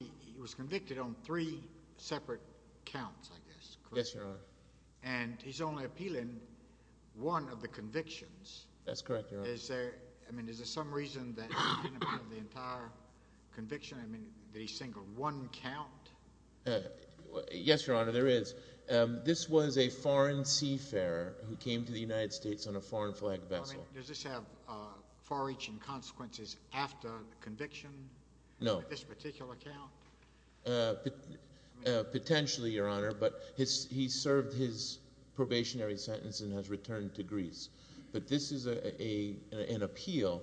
He was convicted on three separate counts, I guess. Yes, Your Honor. And he's only appealing one of the convictions. That's correct, Your Honor. Is there some reason that he can't appeal the entire conviction? I mean, did he single one count? Yes, Your Honor, there is. This was a foreign seafarer who came to the United States on a foreign flag vessel. Does this have far-reaching consequences after the conviction? No. What about this particular count? Potentially, Your Honor, but he served his probationary sentence and has returned to Greece. But this is an appeal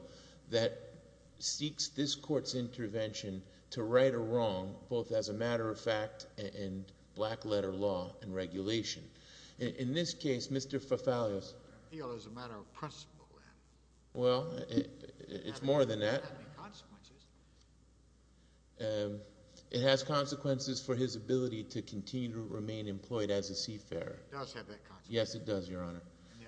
that seeks this court's intervention to right a wrong, both as a matter of fact and black-letter law and regulation. In this case, Mr. Fafalios— Appeal is a matter of principle, then. Well, it's more than that. Does that have any consequences? It has consequences for his ability to continue to remain employed as a seafarer. It does have that consequence. Yes, it does, Your Honor.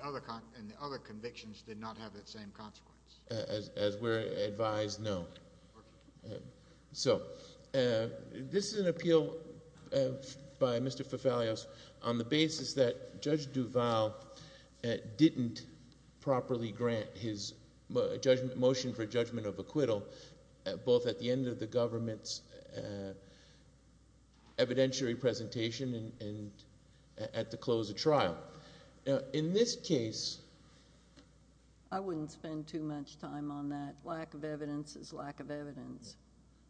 And the other convictions did not have that same consequence? As we're advised, no. So this is an appeal by Mr. Fafalios on the basis that Judge Duval didn't properly grant his motion for judgment of acquittal, both at the end of the government's evidentiary presentation and at the close of trial. In this case— I wouldn't spend too much time on that. Lack of evidence is lack of evidence.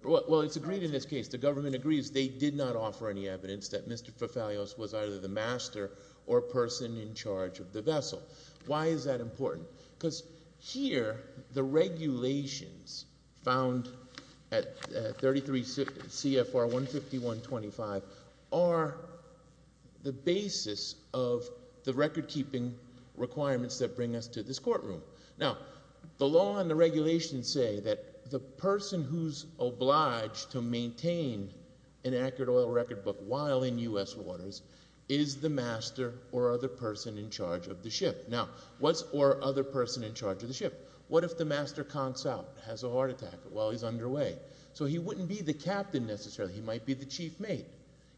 Well, it's agreed in this case. The government agrees they did not offer any evidence that Mr. Fafalios was either the master or person in charge of the vessel. Why is that important? Because here the regulations found at 33 CFR 15125 are the basis of the recordkeeping requirements that bring us to this courtroom. Now, the law and the regulations say that the person who's obliged to maintain an accurate oil record book while in U.S. waters is the master or other person in charge of the ship. Now, what's—or other person in charge of the ship? What if the master conks out, has a heart attack while he's underway? So he wouldn't be the captain necessarily. He might be the chief mate.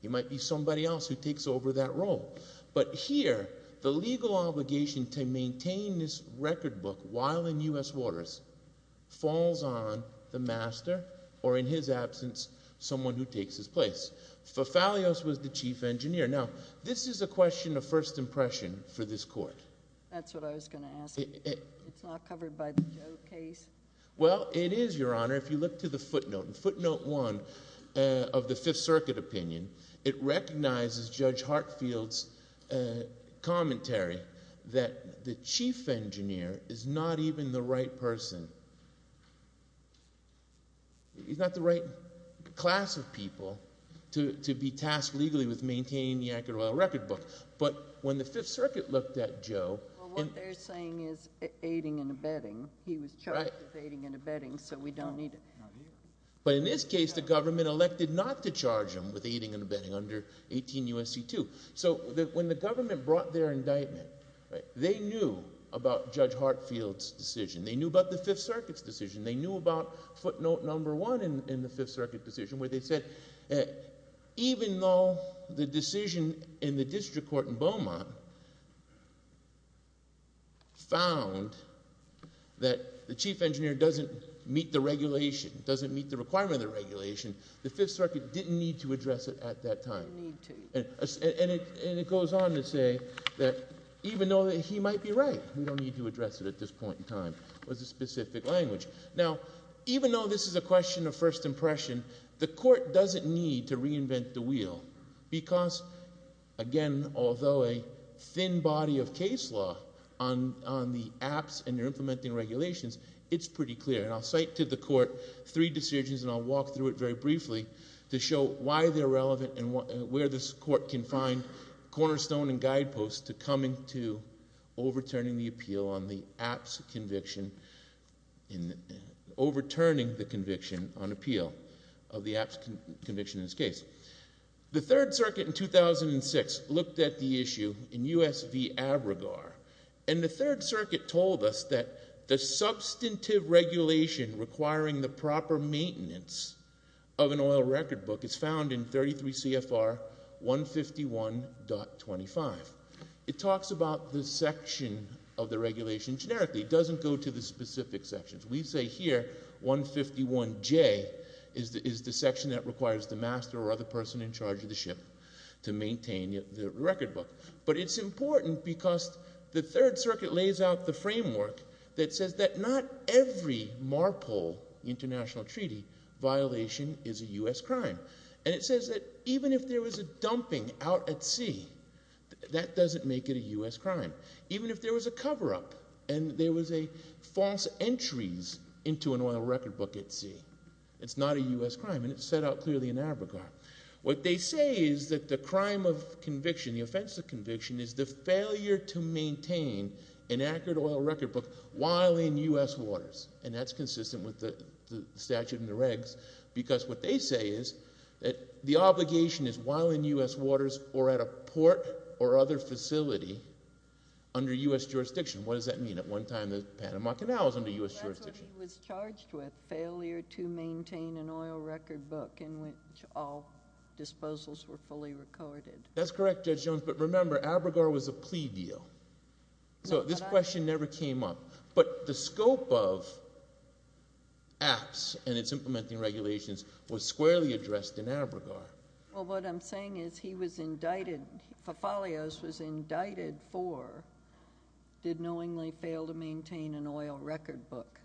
He might be somebody else who takes over that role. But here the legal obligation to maintain this record book while in U.S. waters falls on the master or, in his absence, someone who takes his place. Fafalios was the chief engineer. Now, this is a question of first impression for this court. That's what I was going to ask. It's not covered by the Joe case? Well, it is, Your Honor, if you look to the footnote. Footnote 1 of the Fifth Circuit opinion, it recognizes Judge Hartfield's commentary that the chief engineer is not even the right person. He's not the right class of people to be tasked legally with maintaining the accurate oil record book. But when the Fifth Circuit looked at Joe— Well, what they're saying is aiding and abetting. He was charged with aiding and abetting, so we don't need to— But in this case, the government elected not to charge him with aiding and abetting under 18 U.S.C. 2. So when the government brought their indictment, they knew about Judge Hartfield's decision. They knew about the Fifth Circuit's decision. They knew about footnote number 1 in the Fifth Circuit decision where they said even though the decision in the district court in Beaumont found that the chief engineer doesn't meet the regulation, doesn't meet the requirement of the regulation, the Fifth Circuit didn't need to address it at that time. And it goes on to say that even though he might be right, we don't need to address it at this point in time. It was a specific language. Now, even though this is a question of first impression, the court doesn't need to reinvent the wheel because, again, although a thin body of case law on the APS and their implementing regulations, it's pretty clear. And I'll cite to the court three decisions, and I'll walk through it very briefly to show why they're relevant and where this court can find cornerstone and guideposts to coming to overturning the appeal on the APS conviction and overturning the conviction on appeal of the APS conviction in this case. The Third Circuit in 2006 looked at the issue in U.S. v. Abregar, and the Third Circuit told us that the substantive regulation requiring the proper maintenance of an oil record book is found in 33 CFR 151.25. It talks about the section of the regulation generically. It doesn't go to the specific sections. We say here 151J is the section that requires the master or other person in charge of the ship to maintain the record book. But it's important because the Third Circuit lays out the framework that says that not every MARPOL international treaty violation is a U.S. crime. And it says that even if there was a dumping out at sea, that doesn't make it a U.S. crime. Even if there was a cover-up and there was a false entries into an oil record book at sea, it's not a U.S. crime. And it's set out clearly in Abregar. What they say is that the crime of conviction, the offense of conviction, is the failure to maintain an accurate oil record book while in U.S. waters. And that's consistent with the statute in the regs. Because what they say is that the obligation is while in U.S. waters or at a port or other facility under U.S. jurisdiction. What does that mean? At one time the Panama Canal was under U.S. jurisdiction. That's what he was charged with, failure to maintain an oil record book in which all disposals were fully recorded. That's correct, Judge Jones. But remember, Abregar was a plea deal. So this question never came up. But the scope of APS and its implementing regulations was squarely addressed in Abregar. Well, what I'm saying is he was indicted, Fafalios was indicted for did knowingly fail to maintain an oil record book.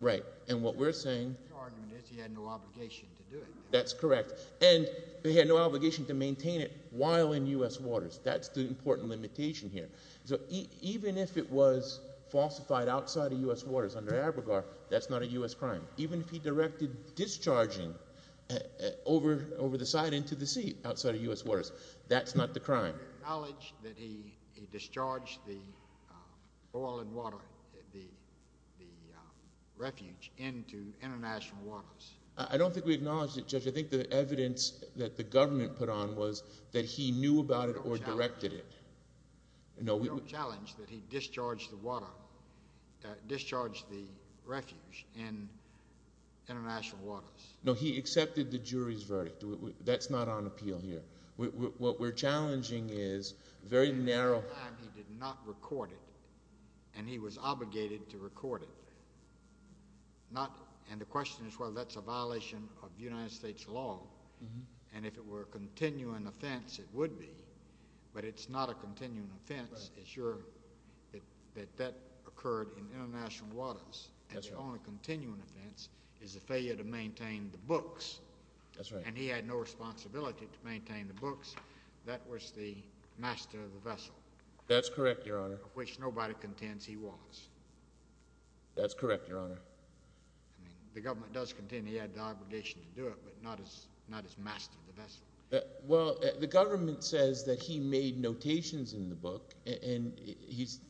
Right. And what we're saying… The argument is he had no obligation to do it. That's correct. And he had no obligation to maintain it while in U.S. waters. That's the important limitation here. So even if it was falsified outside of U.S. waters under Abregar, that's not a U.S. crime. Even if he directed discharging over the side into the sea outside of U.S. waters, that's not the crime. Acknowledge that he discharged the oil and water, the refuge into international waters. I don't think we acknowledged it, Judge. I think the evidence that the government put on was that he knew about it or directed it. We don't challenge that he discharged the water, discharged the refuge in international waters. No, he accepted the jury's verdict. That's not on appeal here. What we're challenging is very narrow… He did not record it, and he was obligated to record it. And the question is whether that's a violation of United States law. And if it were a continuing offense, it would be. But it's not a continuing offense. It's your—that that occurred in international waters. And the only continuing offense is the failure to maintain the books. And he had no responsibility to maintain the books. That was the master of the vessel. That's correct, Your Honor. Of which nobody contends he was. That's correct, Your Honor. The government does contend he had the obligation to do it, but not as master of the vessel. Well, the government says that he made notations in the book. And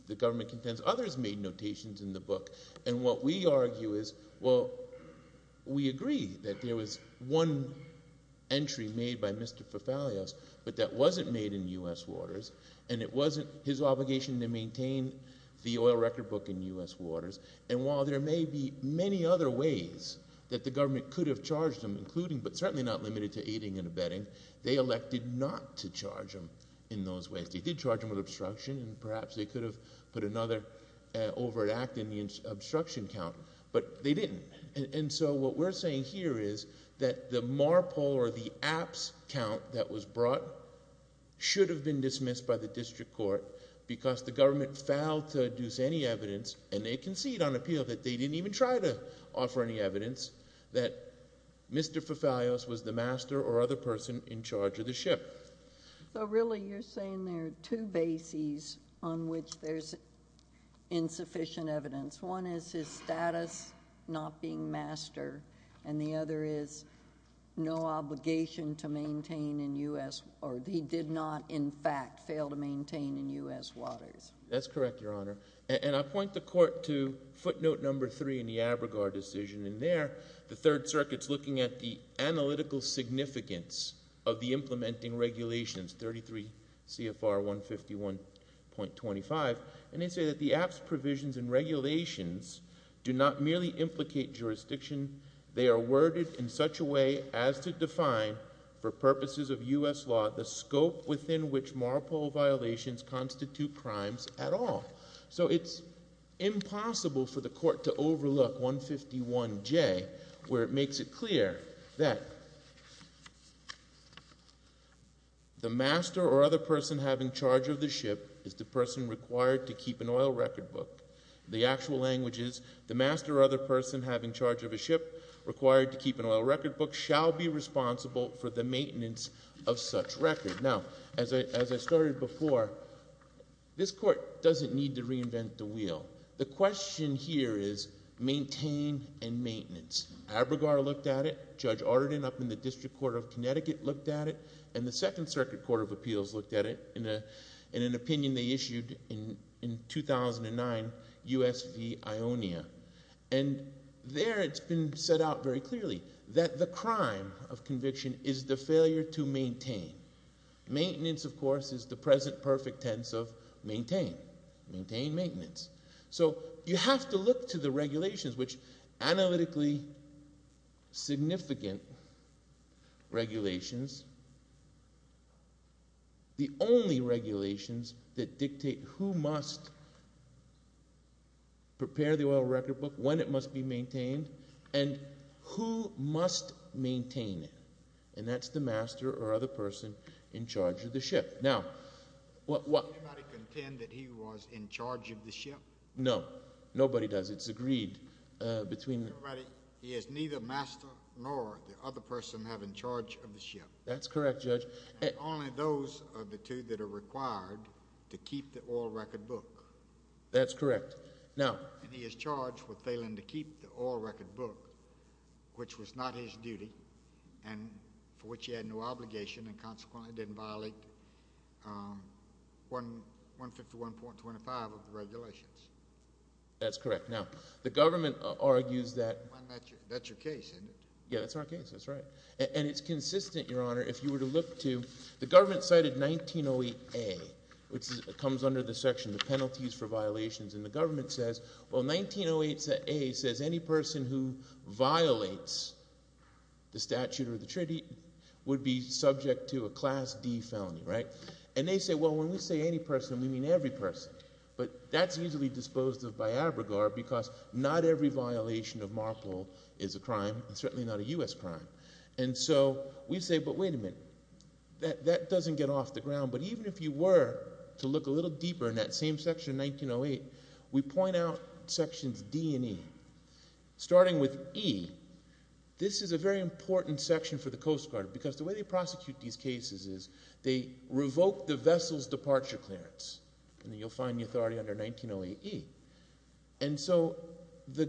the government contends others made notations in the book. And what we argue is, well, we agree that there was one entry made by Mr. Fafalios, but that wasn't made in U.S. waters. And it wasn't his obligation to maintain the oil record book in U.S. waters. And while there may be many other ways that the government could have charged him, including but certainly not limited to aiding and abetting, they elected not to charge him in those ways. They did charge him with obstruction, and perhaps they could have put another overt act in the obstruction count. But they didn't. And so what we're saying here is that the MARPOL or the APPS count that was brought should have been dismissed by the district court because the government failed to deduce any evidence, and they concede on appeal that they didn't even try to offer any evidence, that Mr. Fafalios was the master or other person in charge of the ship. So really you're saying there are two bases on which there's insufficient evidence. One is his status not being master, and the other is no obligation to maintain in U.S. or he did not in fact fail to maintain in U.S. waters. That's correct, Your Honor. And I point the court to footnote number three in the ABRGAR decision. And there the Third Circuit's looking at the analytical significance of the implementing regulations, 33 CFR 151.25. And they say that the APPS provisions and regulations do not merely implicate jurisdiction. They are worded in such a way as to define for purposes of U.S. law the scope within which MARPOL violations constitute crimes at all. So it's impossible for the court to overlook 151J where it makes it clear that the master or other person having charge of the ship is the person required to keep an oil record book. The actual language is the master or other person having charge of a ship required to keep an oil record book shall be responsible for the maintenance of such record. Now, as I started before, this court doesn't need to reinvent the wheel. The question here is maintain and maintenance. ABRGAR looked at it. Judge Arden up in the District Court of Connecticut looked at it. And the Second Circuit Court of Appeals looked at it in an opinion they issued in 2009, U.S. v. Ionia. And there it's been set out very clearly that the crime of conviction is the failure to maintain. Maintenance, of course, is the present perfect tense of maintain. Maintain maintenance. So you have to look to the regulations, which analytically significant regulations, the only regulations that dictate who must prepare the oil record book, when it must be maintained, and who must maintain it. And that's the master or other person in charge of the ship. Does anybody contend that he was in charge of the ship? No. Nobody does. It's agreed between the— He is neither master nor the other person having charge of the ship. That's correct, Judge. Only those are the two that are required to keep the oil record book. That's correct. And he is charged with failing to keep the oil record book, which was not his duty and for which he had no obligation and consequently didn't violate 151.25 of the regulations. That's correct. Now, the government argues that— That's your case, isn't it? Yeah, that's our case. That's right. And it's consistent, Your Honor, if you were to look to—the government cited 1908A, which comes under the section, the penalties for violations. And the government says, well, 1908A says any person who violates the statute or the treaty would be subject to a Class D felony, right? And they say, well, when we say any person, we mean every person. But that's easily disposed of by our regard because not every violation of MARPL is a crime and certainly not a U.S. crime. And so we say, but wait a minute. That doesn't get off the ground. But even if you were to look a little deeper in that same section, 1908, we point out sections D and E. Starting with E, this is a very important section for the Coast Guard because the way they prosecute these cases is they revoke the vessel's departure clearance. And you'll find the authority under 1908E. And so the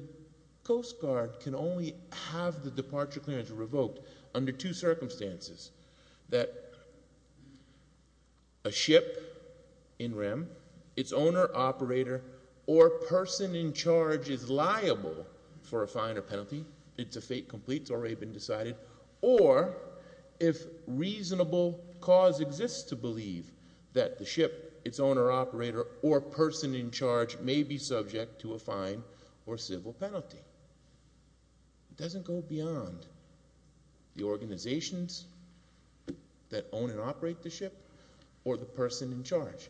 Coast Guard can only have the departure clearance revoked under two circumstances. That a ship in REM, its owner, operator, or person in charge is liable for a fine or penalty. It's a fate complete. It's already been decided. Or if reasonable cause exists to believe that the ship, its owner, operator, or person in charge may be subject to a fine or civil penalty. It doesn't go beyond the organizations that own and operate the ship or the person in charge.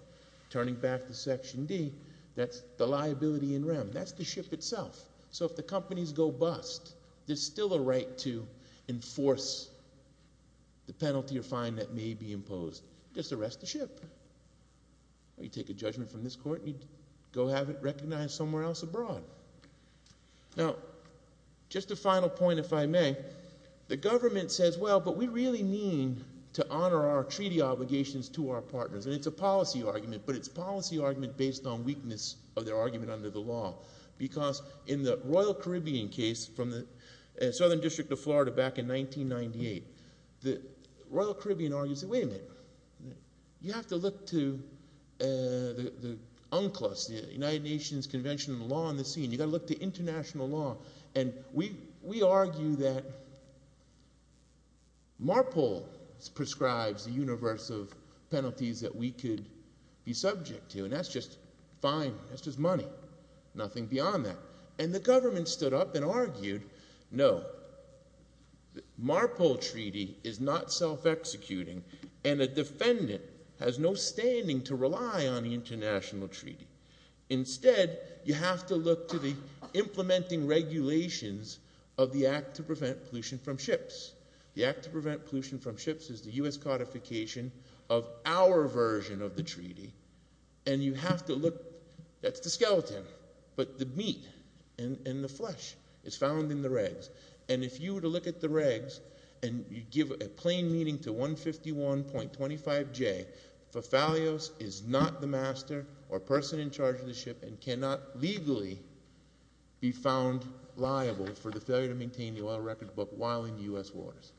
Turning back to section D, that's the liability in REM. That's the ship itself. So if the companies go bust, there's still a right to enforce the penalty or fine that may be imposed. Just arrest the ship. Or you take a judgment from this court and you go have it recognized somewhere else abroad. Now, just a final point, if I may. The government says, well, but we really mean to honor our treaty obligations to our partners. And it's a policy argument, but it's a policy argument based on weakness of their argument under the law. Because in the Royal Caribbean case from the Southern District of Florida back in 1998, the Royal Caribbean argued, wait a minute, you have to look to the UNCLOS, the United Nations Convention on the Law and the Scene. You've got to look to international law. And we argue that MARPOL prescribes the universe of penalties that we could be subject to, and that's just fine. That's just money. Nothing beyond that. And the government stood up and argued, no, the MARPOL treaty is not self-executing, and a defendant has no standing to rely on the international treaty. Instead, you have to look to the implementing regulations of the Act to Prevent Pollution from Ships. The Act to Prevent Pollution from Ships is the U.S. codification of our version of the treaty. And you have to look, that's the skeleton, but the meat and the flesh is found in the regs. And if you were to look at the regs and you give a plain meaning to 151.25J, Fafalios is not the master or person in charge of the ship and cannot legally be found liable for the failure to maintain the oil record book while in U.S. waters.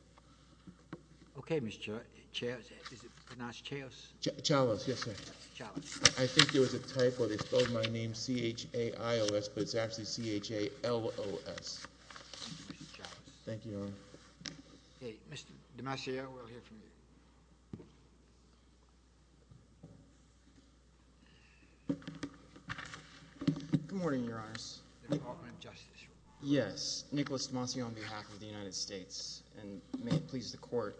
Okay, Mr. Chair. Is it pronounced Chaios? Chaios, yes, sir. Chaios. I think there was a typo. They spelled my name C-H-A-I-O-S, but it's actually C-H-A-L-O-S. Thank you, Mr. Chaios. Thank you, Your Honor. Okay, Mr. DeMasio, we'll hear from you. Good morning, Your Honors. The Department of Justice. Yes, Nicholas DeMasio on behalf of the United States, and may it please the Court.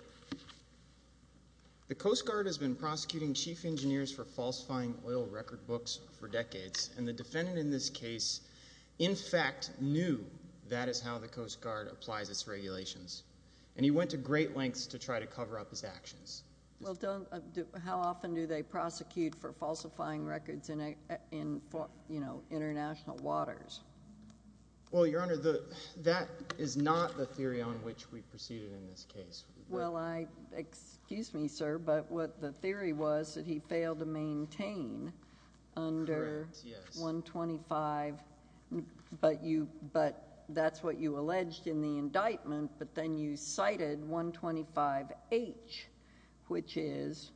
The Coast Guard has been prosecuting chief engineers for falsifying oil record books for decades, and the defendant in this case, in fact, knew that is how the Coast Guard applies its regulations, and he went to great lengths to try to cover up his actions. Well, how often do they prosecute for falsifying records in international waters? Well, Your Honor, that is not the theory on which we proceeded in this case. Well, excuse me, sir, but what the theory was that he failed to maintain under 125, but that's what you alleged in the indictment, but then you cited 125H, which is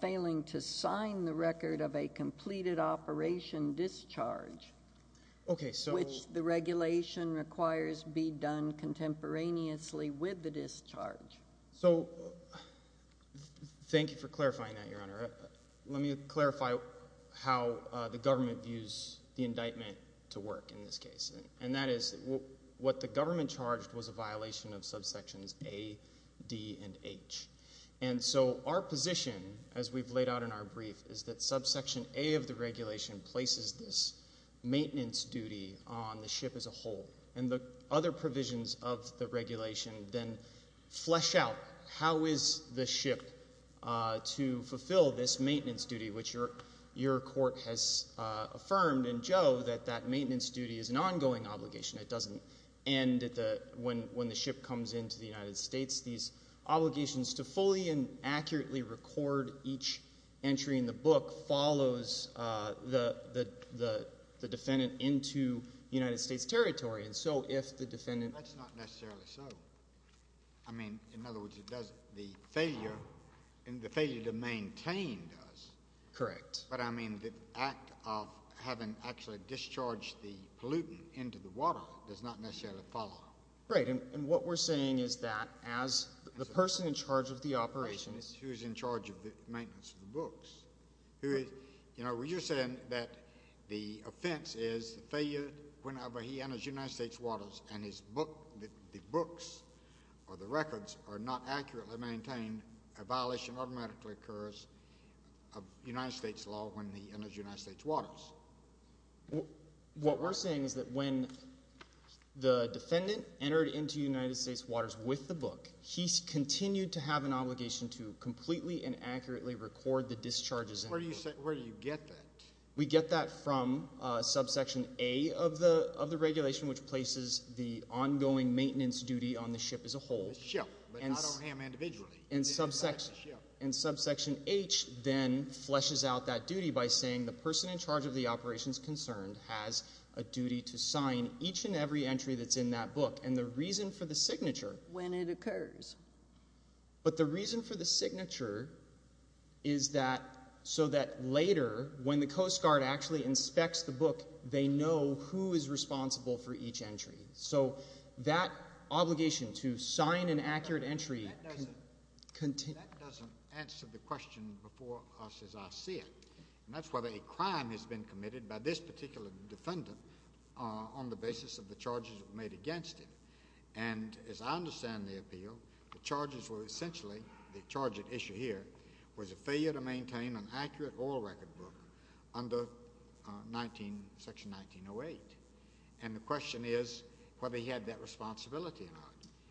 failing to sign the record of a completed operation discharge, which the regulation requires be done contemporaneously with the discharge. So thank you for clarifying that, Your Honor. Let me clarify how the government views the indictment to work in this case, and that is what the government charged was a violation of subsections A, D, and H. And so our position, as we've laid out in our brief, is that subsection A of the regulation places this maintenance duty on the ship as a whole, and the other provisions of the regulation then flesh out how is the ship to fulfill this maintenance duty, which your court has affirmed in Joe that that maintenance duty is an ongoing obligation. It doesn't end when the ship comes into the United States. These obligations to fully and accurately record each entry in the book follows the defendant into United States territory, and so if the defendant— That's not necessarily so. I mean, in other words, the failure to maintain does. Correct. But, I mean, the act of having actually discharged the pollutant into the water does not necessarily follow. Right, and what we're saying is that as the person in charge of the operations— Right, who's in charge of the maintenance of the books. You know, you're saying that the offense is the failure, whenever he enters United States waters and the books or the records are not accurately maintained, a violation automatically occurs of United States law when he enters United States waters. What we're saying is that when the defendant entered into United States waters with the book, he's continued to have an obligation to completely and accurately record the discharges. Where do you get that? We get that from subsection A of the regulation, which places the ongoing maintenance duty on the ship as a whole. The ship, but not on him individually. And subsection H then fleshes out that duty by saying the person in charge of the operations concerned has a duty to sign each and every entry that's in that book, and the reason for the signature— When it occurs. But the reason for the signature is so that later, when the Coast Guard actually inspects the book, they know who is responsible for each entry. So that obligation to sign an accurate entry— That doesn't answer the question before us as I see it, and that's whether a crime has been committed by this particular defendant on the basis of the charges made against him. And as I understand the appeal, the charges were essentially—the charge at issue here was a failure to maintain an accurate oil record book under section 1908. And the question is whether he had that responsibility or not.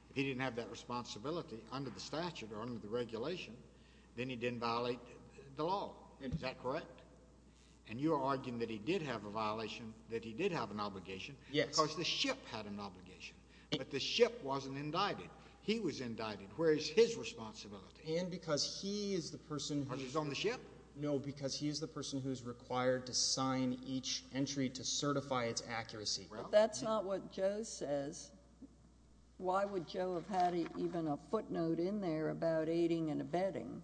If he didn't have that responsibility under the statute or under the regulation, then he didn't violate the law. Is that correct? And you are arguing that he did have a violation, that he did have an obligation, because the ship had an obligation. But the ship wasn't indicted. He was indicted. Where is his responsibility? And because he is the person who— Because he's on the ship? No, because he is the person who is required to sign each entry to certify its accuracy. If that's not what Joe says, why would Joe have had even a footnote in there about aiding and abetting?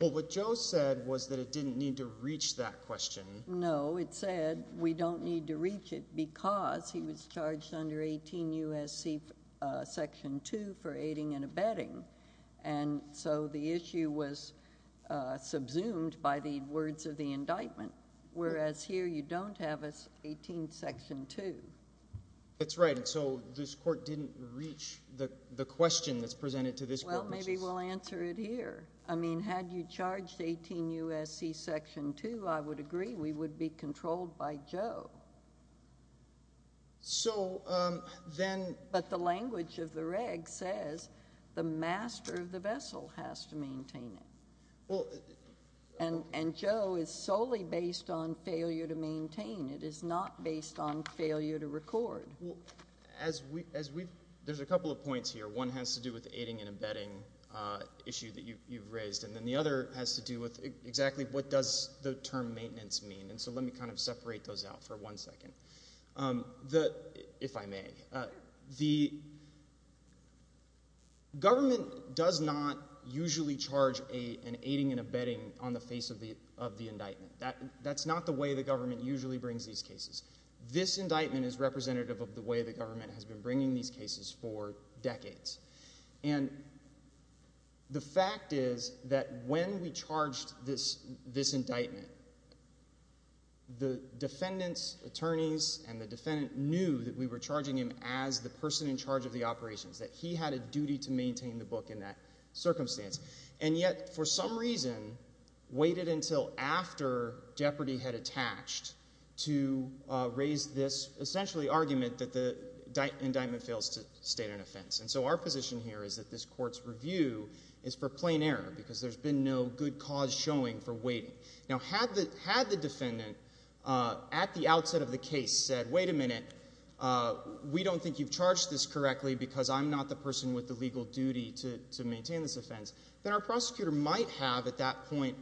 Well, what Joe said was that it didn't need to reach that question. No, it said we don't need to reach it because he was charged under 18 U.S.C. section 2 for aiding and abetting. And so the issue was subsumed by the words of the indictment, whereas here you don't have 18 section 2. That's right. And so this court didn't reach the question that's presented to this court, which is— Well, maybe we'll answer it here. I mean, had you charged 18 U.S.C. section 2, I would agree we would be controlled by Joe. So then— But the language of the reg says the master of the vessel has to maintain it. And Joe is solely based on failure to maintain. It is not based on failure to record. There's a couple of points here. One has to do with the aiding and abetting issue that you've raised. And then the other has to do with exactly what does the term maintenance mean. And so let me kind of separate those out for one second, if I may. The government does not usually charge an aiding and abetting on the face of the indictment. That's not the way the government usually brings these cases. This indictment is representative of the way the government has been bringing these cases for decades. And the fact is that when we charged this indictment, the defendant's attorneys and the defendant knew that we were charging him as the person in charge of the operations, that he had a duty to maintain the book in that circumstance. And yet, for some reason, waited until after jeopardy had attached to raise this, essentially, argument that the indictment fails to state an offense. And so our position here is that this court's review is for plain error because there's been no good cause showing for waiting. Now, had the defendant at the outset of the case said, wait a minute, we don't think you've charged this correctly because I'm not the person with the legal duty to maintain this offense, then our prosecutor might have at that point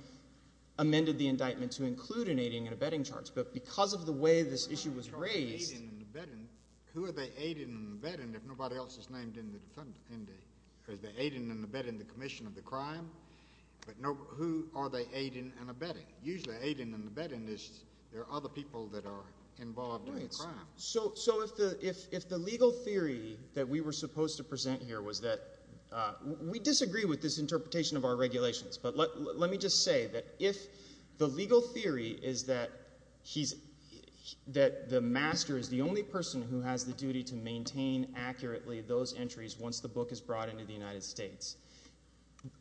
amended the indictment to include an aiding and abetting charge. But because of the way this issue was raised. Who are they aiding and abetting if nobody else is named in the defendant? Are they aiding and abetting the commission of the crime? But who are they aiding and abetting? Usually aiding and abetting is there are other people that are involved in the crime. So if the legal theory that we were supposed to present here was that we disagree with this interpretation of our regulations. But let me just say that if the legal theory is that the master is the only person who has the duty to maintain accurately those entries once the book is brought into the United States,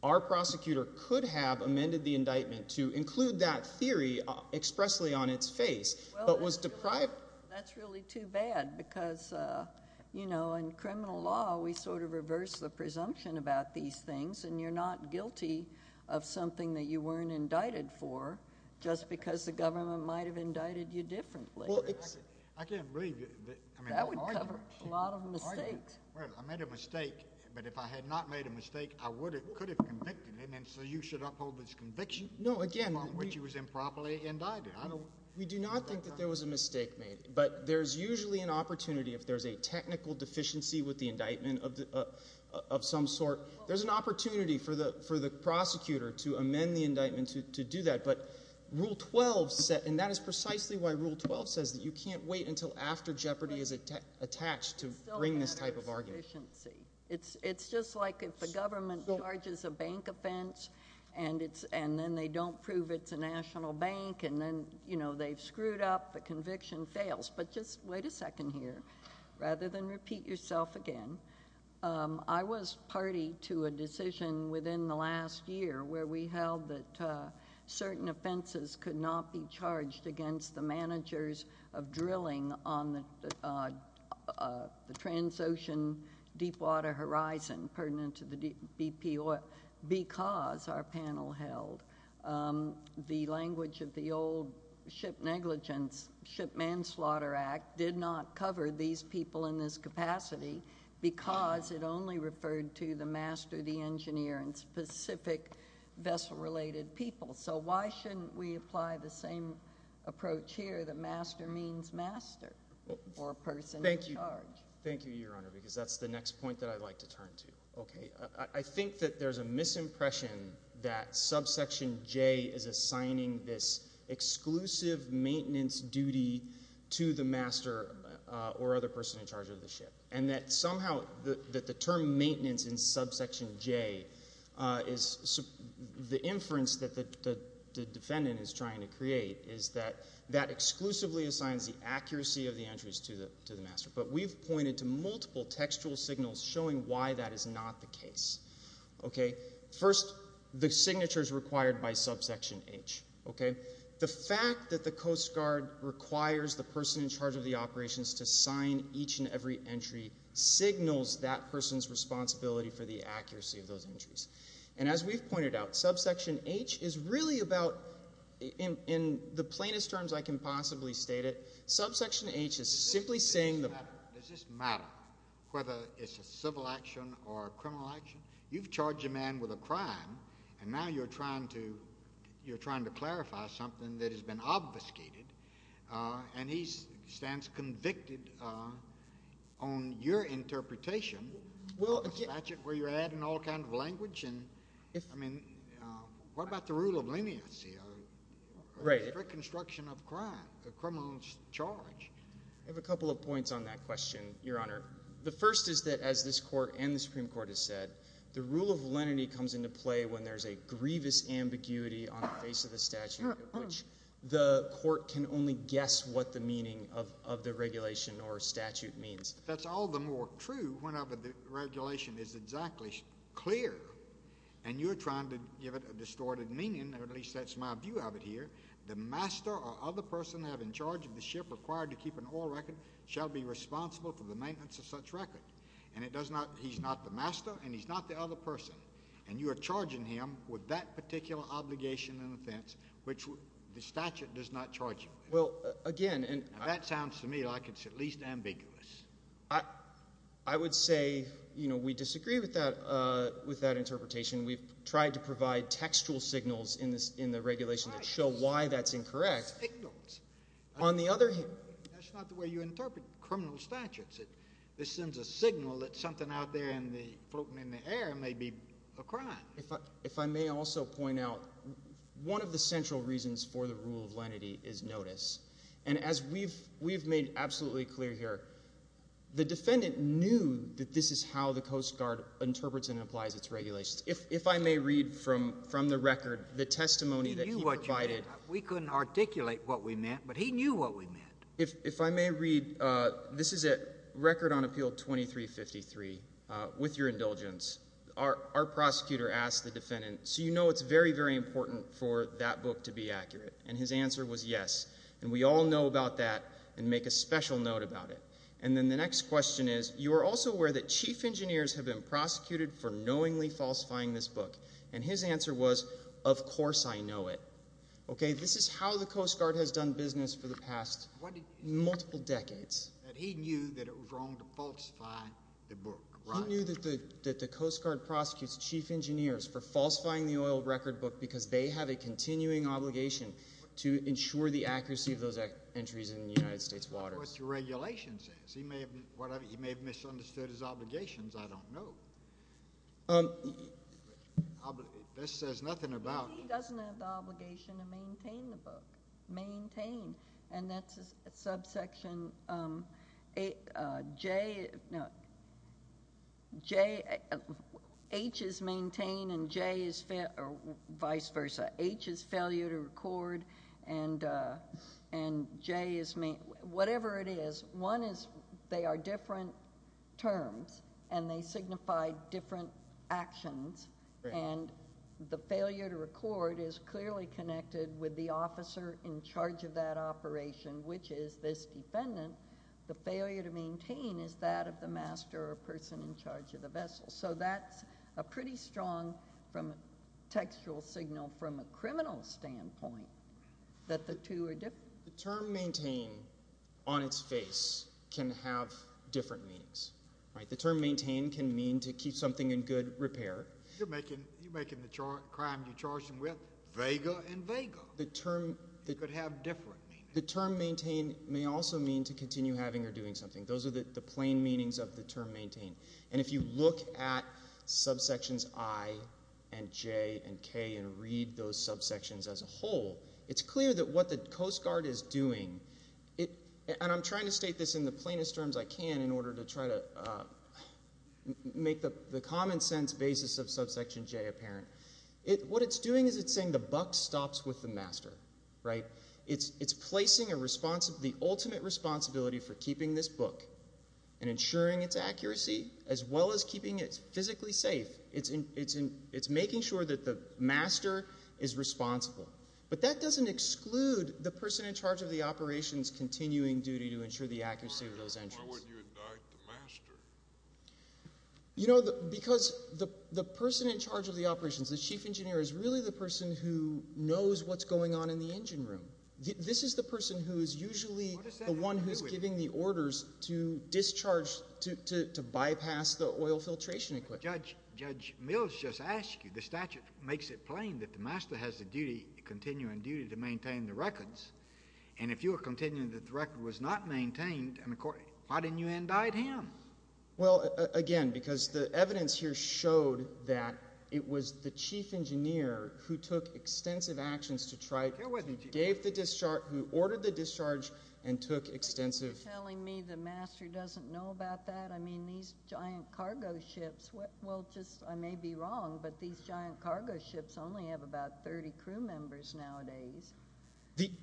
our prosecutor could have amended the indictment to include that theory expressly on its face but was deprived. That's really too bad because, you know, in criminal law we sort of reverse the presumption about these things and you're not guilty of something that you weren't indicted for just because the government might have indicted you differently. I can't believe you. That would cover a lot of mistakes. I made a mistake, but if I had not made a mistake, I could have convicted him and so you should uphold this conviction? No, again. Which he was improperly indicted. We do not think that there was a mistake made. But there's usually an opportunity if there's a technical deficiency with the indictment of some sort, there's an opportunity for the prosecutor to amend the indictment to do that. But Rule 12, and that is precisely why Rule 12 says that you can't wait until after jeopardy is attached to bring this type of argument. It's just like if the government charges a bank offense and then they don't prove it's a national bank and then, you know, they've screwed up, the conviction fails. But just wait a second here. Rather than repeat yourself again, I was party to a decision within the last year where we held that certain offenses could not be charged against the managers of drilling on the Transocean Deepwater Horizon, because our panel held the language of the old ship negligence, Ship Manslaughter Act, did not cover these people in this capacity because it only referred to the master, the engineer, and specific vessel-related people. So why shouldn't we apply the same approach here that master means master or person in charge? Thank you, Your Honor, because that's the next point that I'd like to turn to. Okay. I think that there's a misimpression that subsection J is assigning this exclusive maintenance duty to the master or other person in charge of the ship and that somehow that the term maintenance in subsection J is the inference that the defendant is trying to create is that that exclusively assigns the accuracy of the entries to the master. But we've pointed to multiple textual signals showing why that is not the case. Okay. First, the signatures required by subsection H. Okay. The fact that the Coast Guard requires the person in charge of the operations to sign each and every entry signals that person's responsibility for the accuracy of those entries. And as we've pointed out, subsection H is really about, in the plainest terms I can possibly state it, subsection H is simply saying the matter. Does this matter whether it's a civil action or a criminal action? You've charged a man with a crime, and now you're trying to clarify something that has been obfuscated, and he stands convicted on your interpretation of a statute where you're adding all kinds of language? I mean, what about the rule of leniency? Right. Reconstruction of crime, a criminal charge. I have a couple of points on that question, Your Honor. The first is that, as this court and the Supreme Court has said, the rule of leniency comes into play when there's a grievous ambiguity on the face of the statute, which the court can only guess what the meaning of the regulation or statute means. That's all the more true whenever the regulation is exactly clear, and you're trying to give it a distorted meaning, or at least that's my view of it here. The master or other person in charge of the ship required to keep an oil record shall be responsible for the maintenance of such record, and he's not the master and he's not the other person, and you are charging him with that particular obligation and offense, which the statute does not charge him with. Well, again— That sounds to me like it's at least ambiguous. I would say we disagree with that interpretation. We've tried to provide textual signals in the regulation that show why that's incorrect. On the other hand— That's not the way you interpret criminal statutes. This sends a signal that something out there floating in the air may be a crime. If I may also point out, one of the central reasons for the rule of lenity is notice, and as we've made absolutely clear here, the defendant knew that this is how the Coast Guard interprets and applies its regulations. If I may read from the record the testimony that he provided— He knew what you meant. We couldn't articulate what we meant, but he knew what we meant. If I may read—this is a record on Appeal 2353 with your indulgence. Our prosecutor asked the defendant, so you know it's very, very important for that book to be accurate, and his answer was yes, and we all know about that and make a special note about it. And then the next question is, you are also aware that chief engineers have been prosecuted for knowingly falsifying this book, and his answer was, of course I know it. Okay, this is how the Coast Guard has done business for the past multiple decades. He knew that it was wrong to falsify the book, right? He knew that the Coast Guard prosecutes chief engineers for falsifying the oil record book because they have a continuing obligation to ensure the accuracy of those entries in the United States waters. That's what the regulation says. He may have misunderstood his obligations. I don't know. This says nothing about— He doesn't have the obligation to maintain the book. Maintain, and that's a subsection. H is maintain, and J is—or vice versa. H is failure to record, and J is—whatever it is, one is they are different terms, and they signify different actions, and the failure to record is clearly connected with the officer in charge of that operation, which is this defendant. The failure to maintain is that of the master or person in charge of the vessel. So that's a pretty strong textual signal from a criminal standpoint that the two are different. The term maintain on its face can have different meanings, right? The term maintain can mean to keep something in good repair. You're making the crime you charged him with vaguer and vaguer. It could have different meanings. The term maintain may also mean to continue having or doing something. Those are the plain meanings of the term maintain, and if you look at subsections I and J and K and read those subsections as a whole, it's clear that what the Coast Guard is doing—and I'm trying to state this in the plainest terms I can in order to try to make the common sense basis of subsection J apparent. What it's doing is it's saying the buck stops with the master, right? It's placing the ultimate responsibility for keeping this book and ensuring its accuracy as well as keeping it physically safe. It's making sure that the master is responsible. But that doesn't exclude the person in charge of the operation's continuing duty to ensure the accuracy of those entries. Why wouldn't you indict the master? You know, because the person in charge of the operations, the chief engineer, is really the person who knows what's going on in the engine room. This is the person who is usually the one who is giving the orders to discharge—to bypass the oil filtration equipment. Judge Mills just asked you. The statute makes it plain that the master has the duty, continuing duty, to maintain the records, and if you are continuing that the record was not maintained, why didn't you indict him? Well, again, because the evidence here showed that it was the chief engineer who took extensive actions to try— It wasn't the chief engineer. —gave the discharge—who ordered the discharge and took extensive— Are you telling me the master doesn't know about that? I mean, these giant cargo ships—well, just—I may be wrong, but these giant cargo ships only have about 30 crew members nowadays.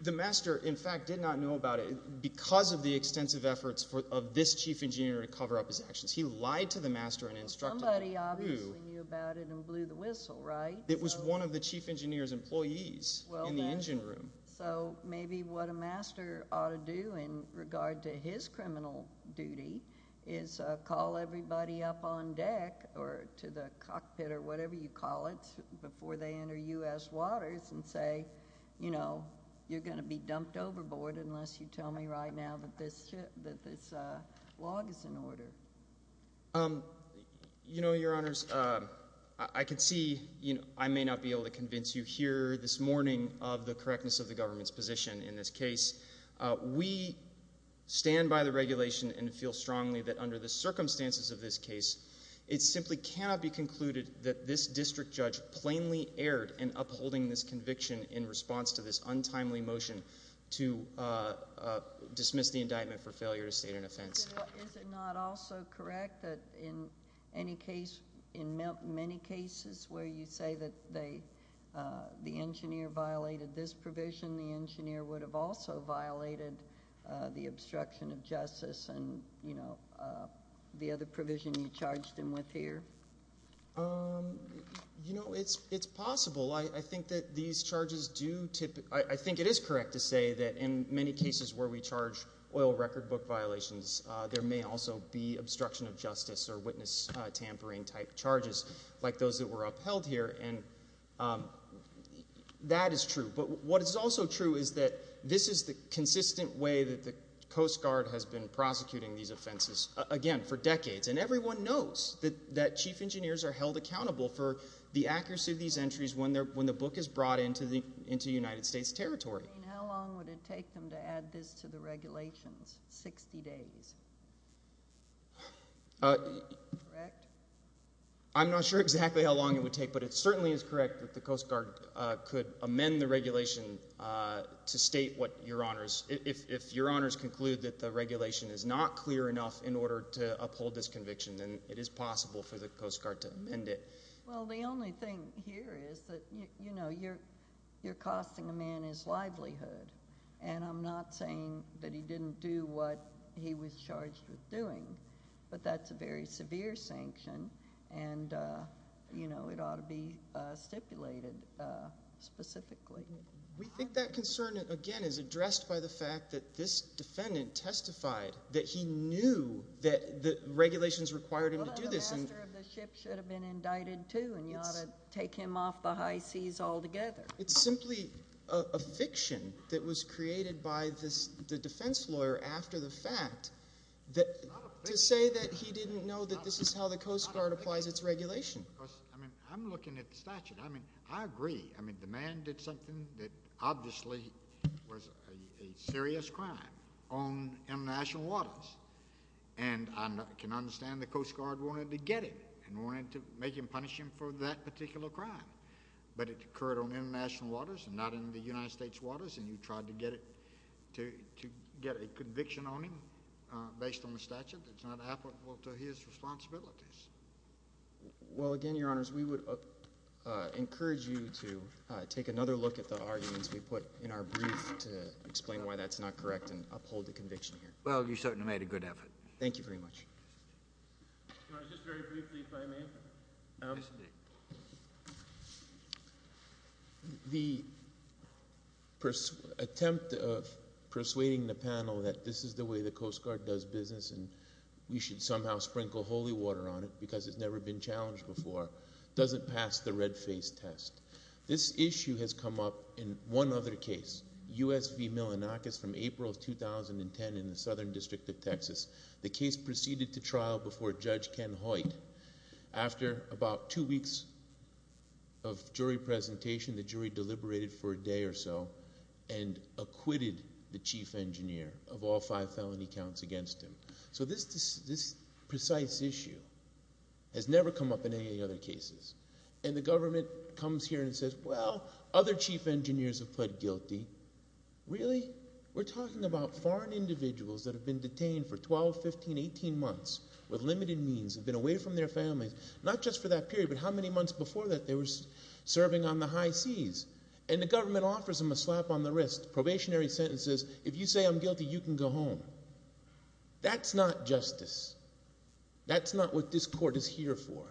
The master, in fact, did not know about it because of the extensive efforts of this chief engineer to cover up his actions. He lied to the master and instructed— Somebody obviously knew about it and blew the whistle, right? It was one of the chief engineer's employees in the engine room. So maybe what a master ought to do in regard to his criminal duty is call everybody up on deck or to the cockpit or whatever you call it before they enter U.S. waters and say, you know, you're going to be dumped overboard unless you tell me right now that this log is in order. You know, Your Honors, I can see—I may not be able to convince you here this morning of the correctness of the government's position in this case. We stand by the regulation and feel strongly that under the circumstances of this case, it simply cannot be concluded that this district judge plainly erred in upholding this conviction in response to this untimely motion to dismiss the indictment for failure to state an offense. Is it not also correct that in any case—in many cases where you say that the engineer violated this provision, the engineer would have also violated the obstruction of justice and, you know, the other provision you charged him with here? You know, it's possible. I think that these charges do—I think it is correct to say that in many cases where we charge oil record book violations, there may also be obstruction of justice or witness tampering type charges like those that were upheld here, and that is true. But what is also true is that this is the consistent way that the Coast Guard has been prosecuting these offenses, again, for decades, and everyone knows that chief engineers are held accountable for the accuracy of these entries when the book is brought into United States territory. I mean, how long would it take them to add this to the regulations, 60 days? Correct? I'm not sure exactly how long it would take, but it certainly is correct that the Coast Guard could amend the regulation to state what your honors— if your honors conclude that the regulation is not clear enough in order to uphold this conviction, then it is possible for the Coast Guard to amend it. Well, the only thing here is that, you know, you're costing a man his livelihood, and I'm not saying that he didn't do what he was charged with doing, but that's a very severe sanction, and, you know, it ought to be stipulated specifically. We think that concern, again, is addressed by the fact that this defendant testified that he knew that the regulations required him to do this. Well, the master of the ship should have been indicted, too, and you ought to take him off the high seas altogether. It's simply a fiction that was created by the defense lawyer after the fact to say that he didn't know that this is how the Coast Guard applies its regulation. I mean, I'm looking at the statute. I mean, I agree. I mean, the man did something that obviously was a serious crime on international waters, and I can understand the Coast Guard wanted to get him and wanted to make him punish him for that particular crime, but it occurred on international waters and not in the United States waters, and you tried to get a conviction on him based on the statute. That's not applicable to his responsibilities. Well, again, Your Honors, we would encourage you to take another look at the arguments we put in our brief to explain why that's not correct and uphold the conviction here. Well, you certainly made a good effort. Thank you very much. Your Honor, just very briefly, if I may. Yes, indeed. The attempt of persuading the panel that this is the way the Coast Guard does business and we should somehow sprinkle holy water on it because it's never been challenged before doesn't pass the red face test. This issue has come up in one other case, U.S. v. Milonakis from April of 2010 in the Southern District of Texas. The case proceeded to trial before Judge Ken Hoyt. After about two weeks of jury presentation, the jury deliberated for a day or so and acquitted the chief engineer of all five felony counts against him. So this precise issue has never come up in any other cases, and the government comes here and says, well, other chief engineers have pled guilty. Really? We're talking about foreign individuals that have been detained for 12, 15, 18 months with limited means, have been away from their families not just for that period but how many months before that they were serving on the high seas, and the government offers them a slap on the wrist, probationary sentences. If you say I'm guilty, you can go home. That's not justice. That's not what this court is here for.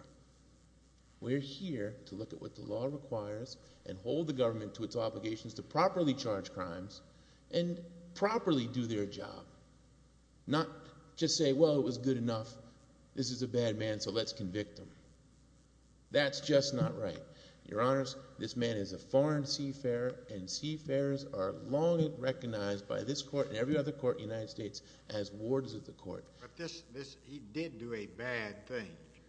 We're here to look at what the law requires and hold the government to its obligations to properly charge crimes and properly do their job, not just say, well, it was good enough, this is a bad man, so let's convict him. That's just not right. Your Honors, this man is a foreign seafarer, and seafarers are long recognized by this court and every other court in the United States as wardens of the court. But he did do a bad thing.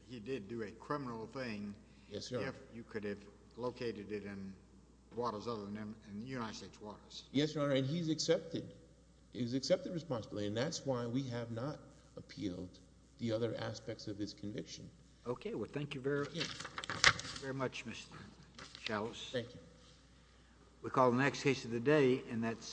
He did do a criminal thing. Yes, Your Honor. You could have located it in waters other than the United States waters. Yes, Your Honor, and he's accepted. He's accepted responsibly, and that's why we have not appealed the other aspects of his conviction. Okay, well, thank you very much, Mr. Chalice. Thank you. We call the next case of the day, and that's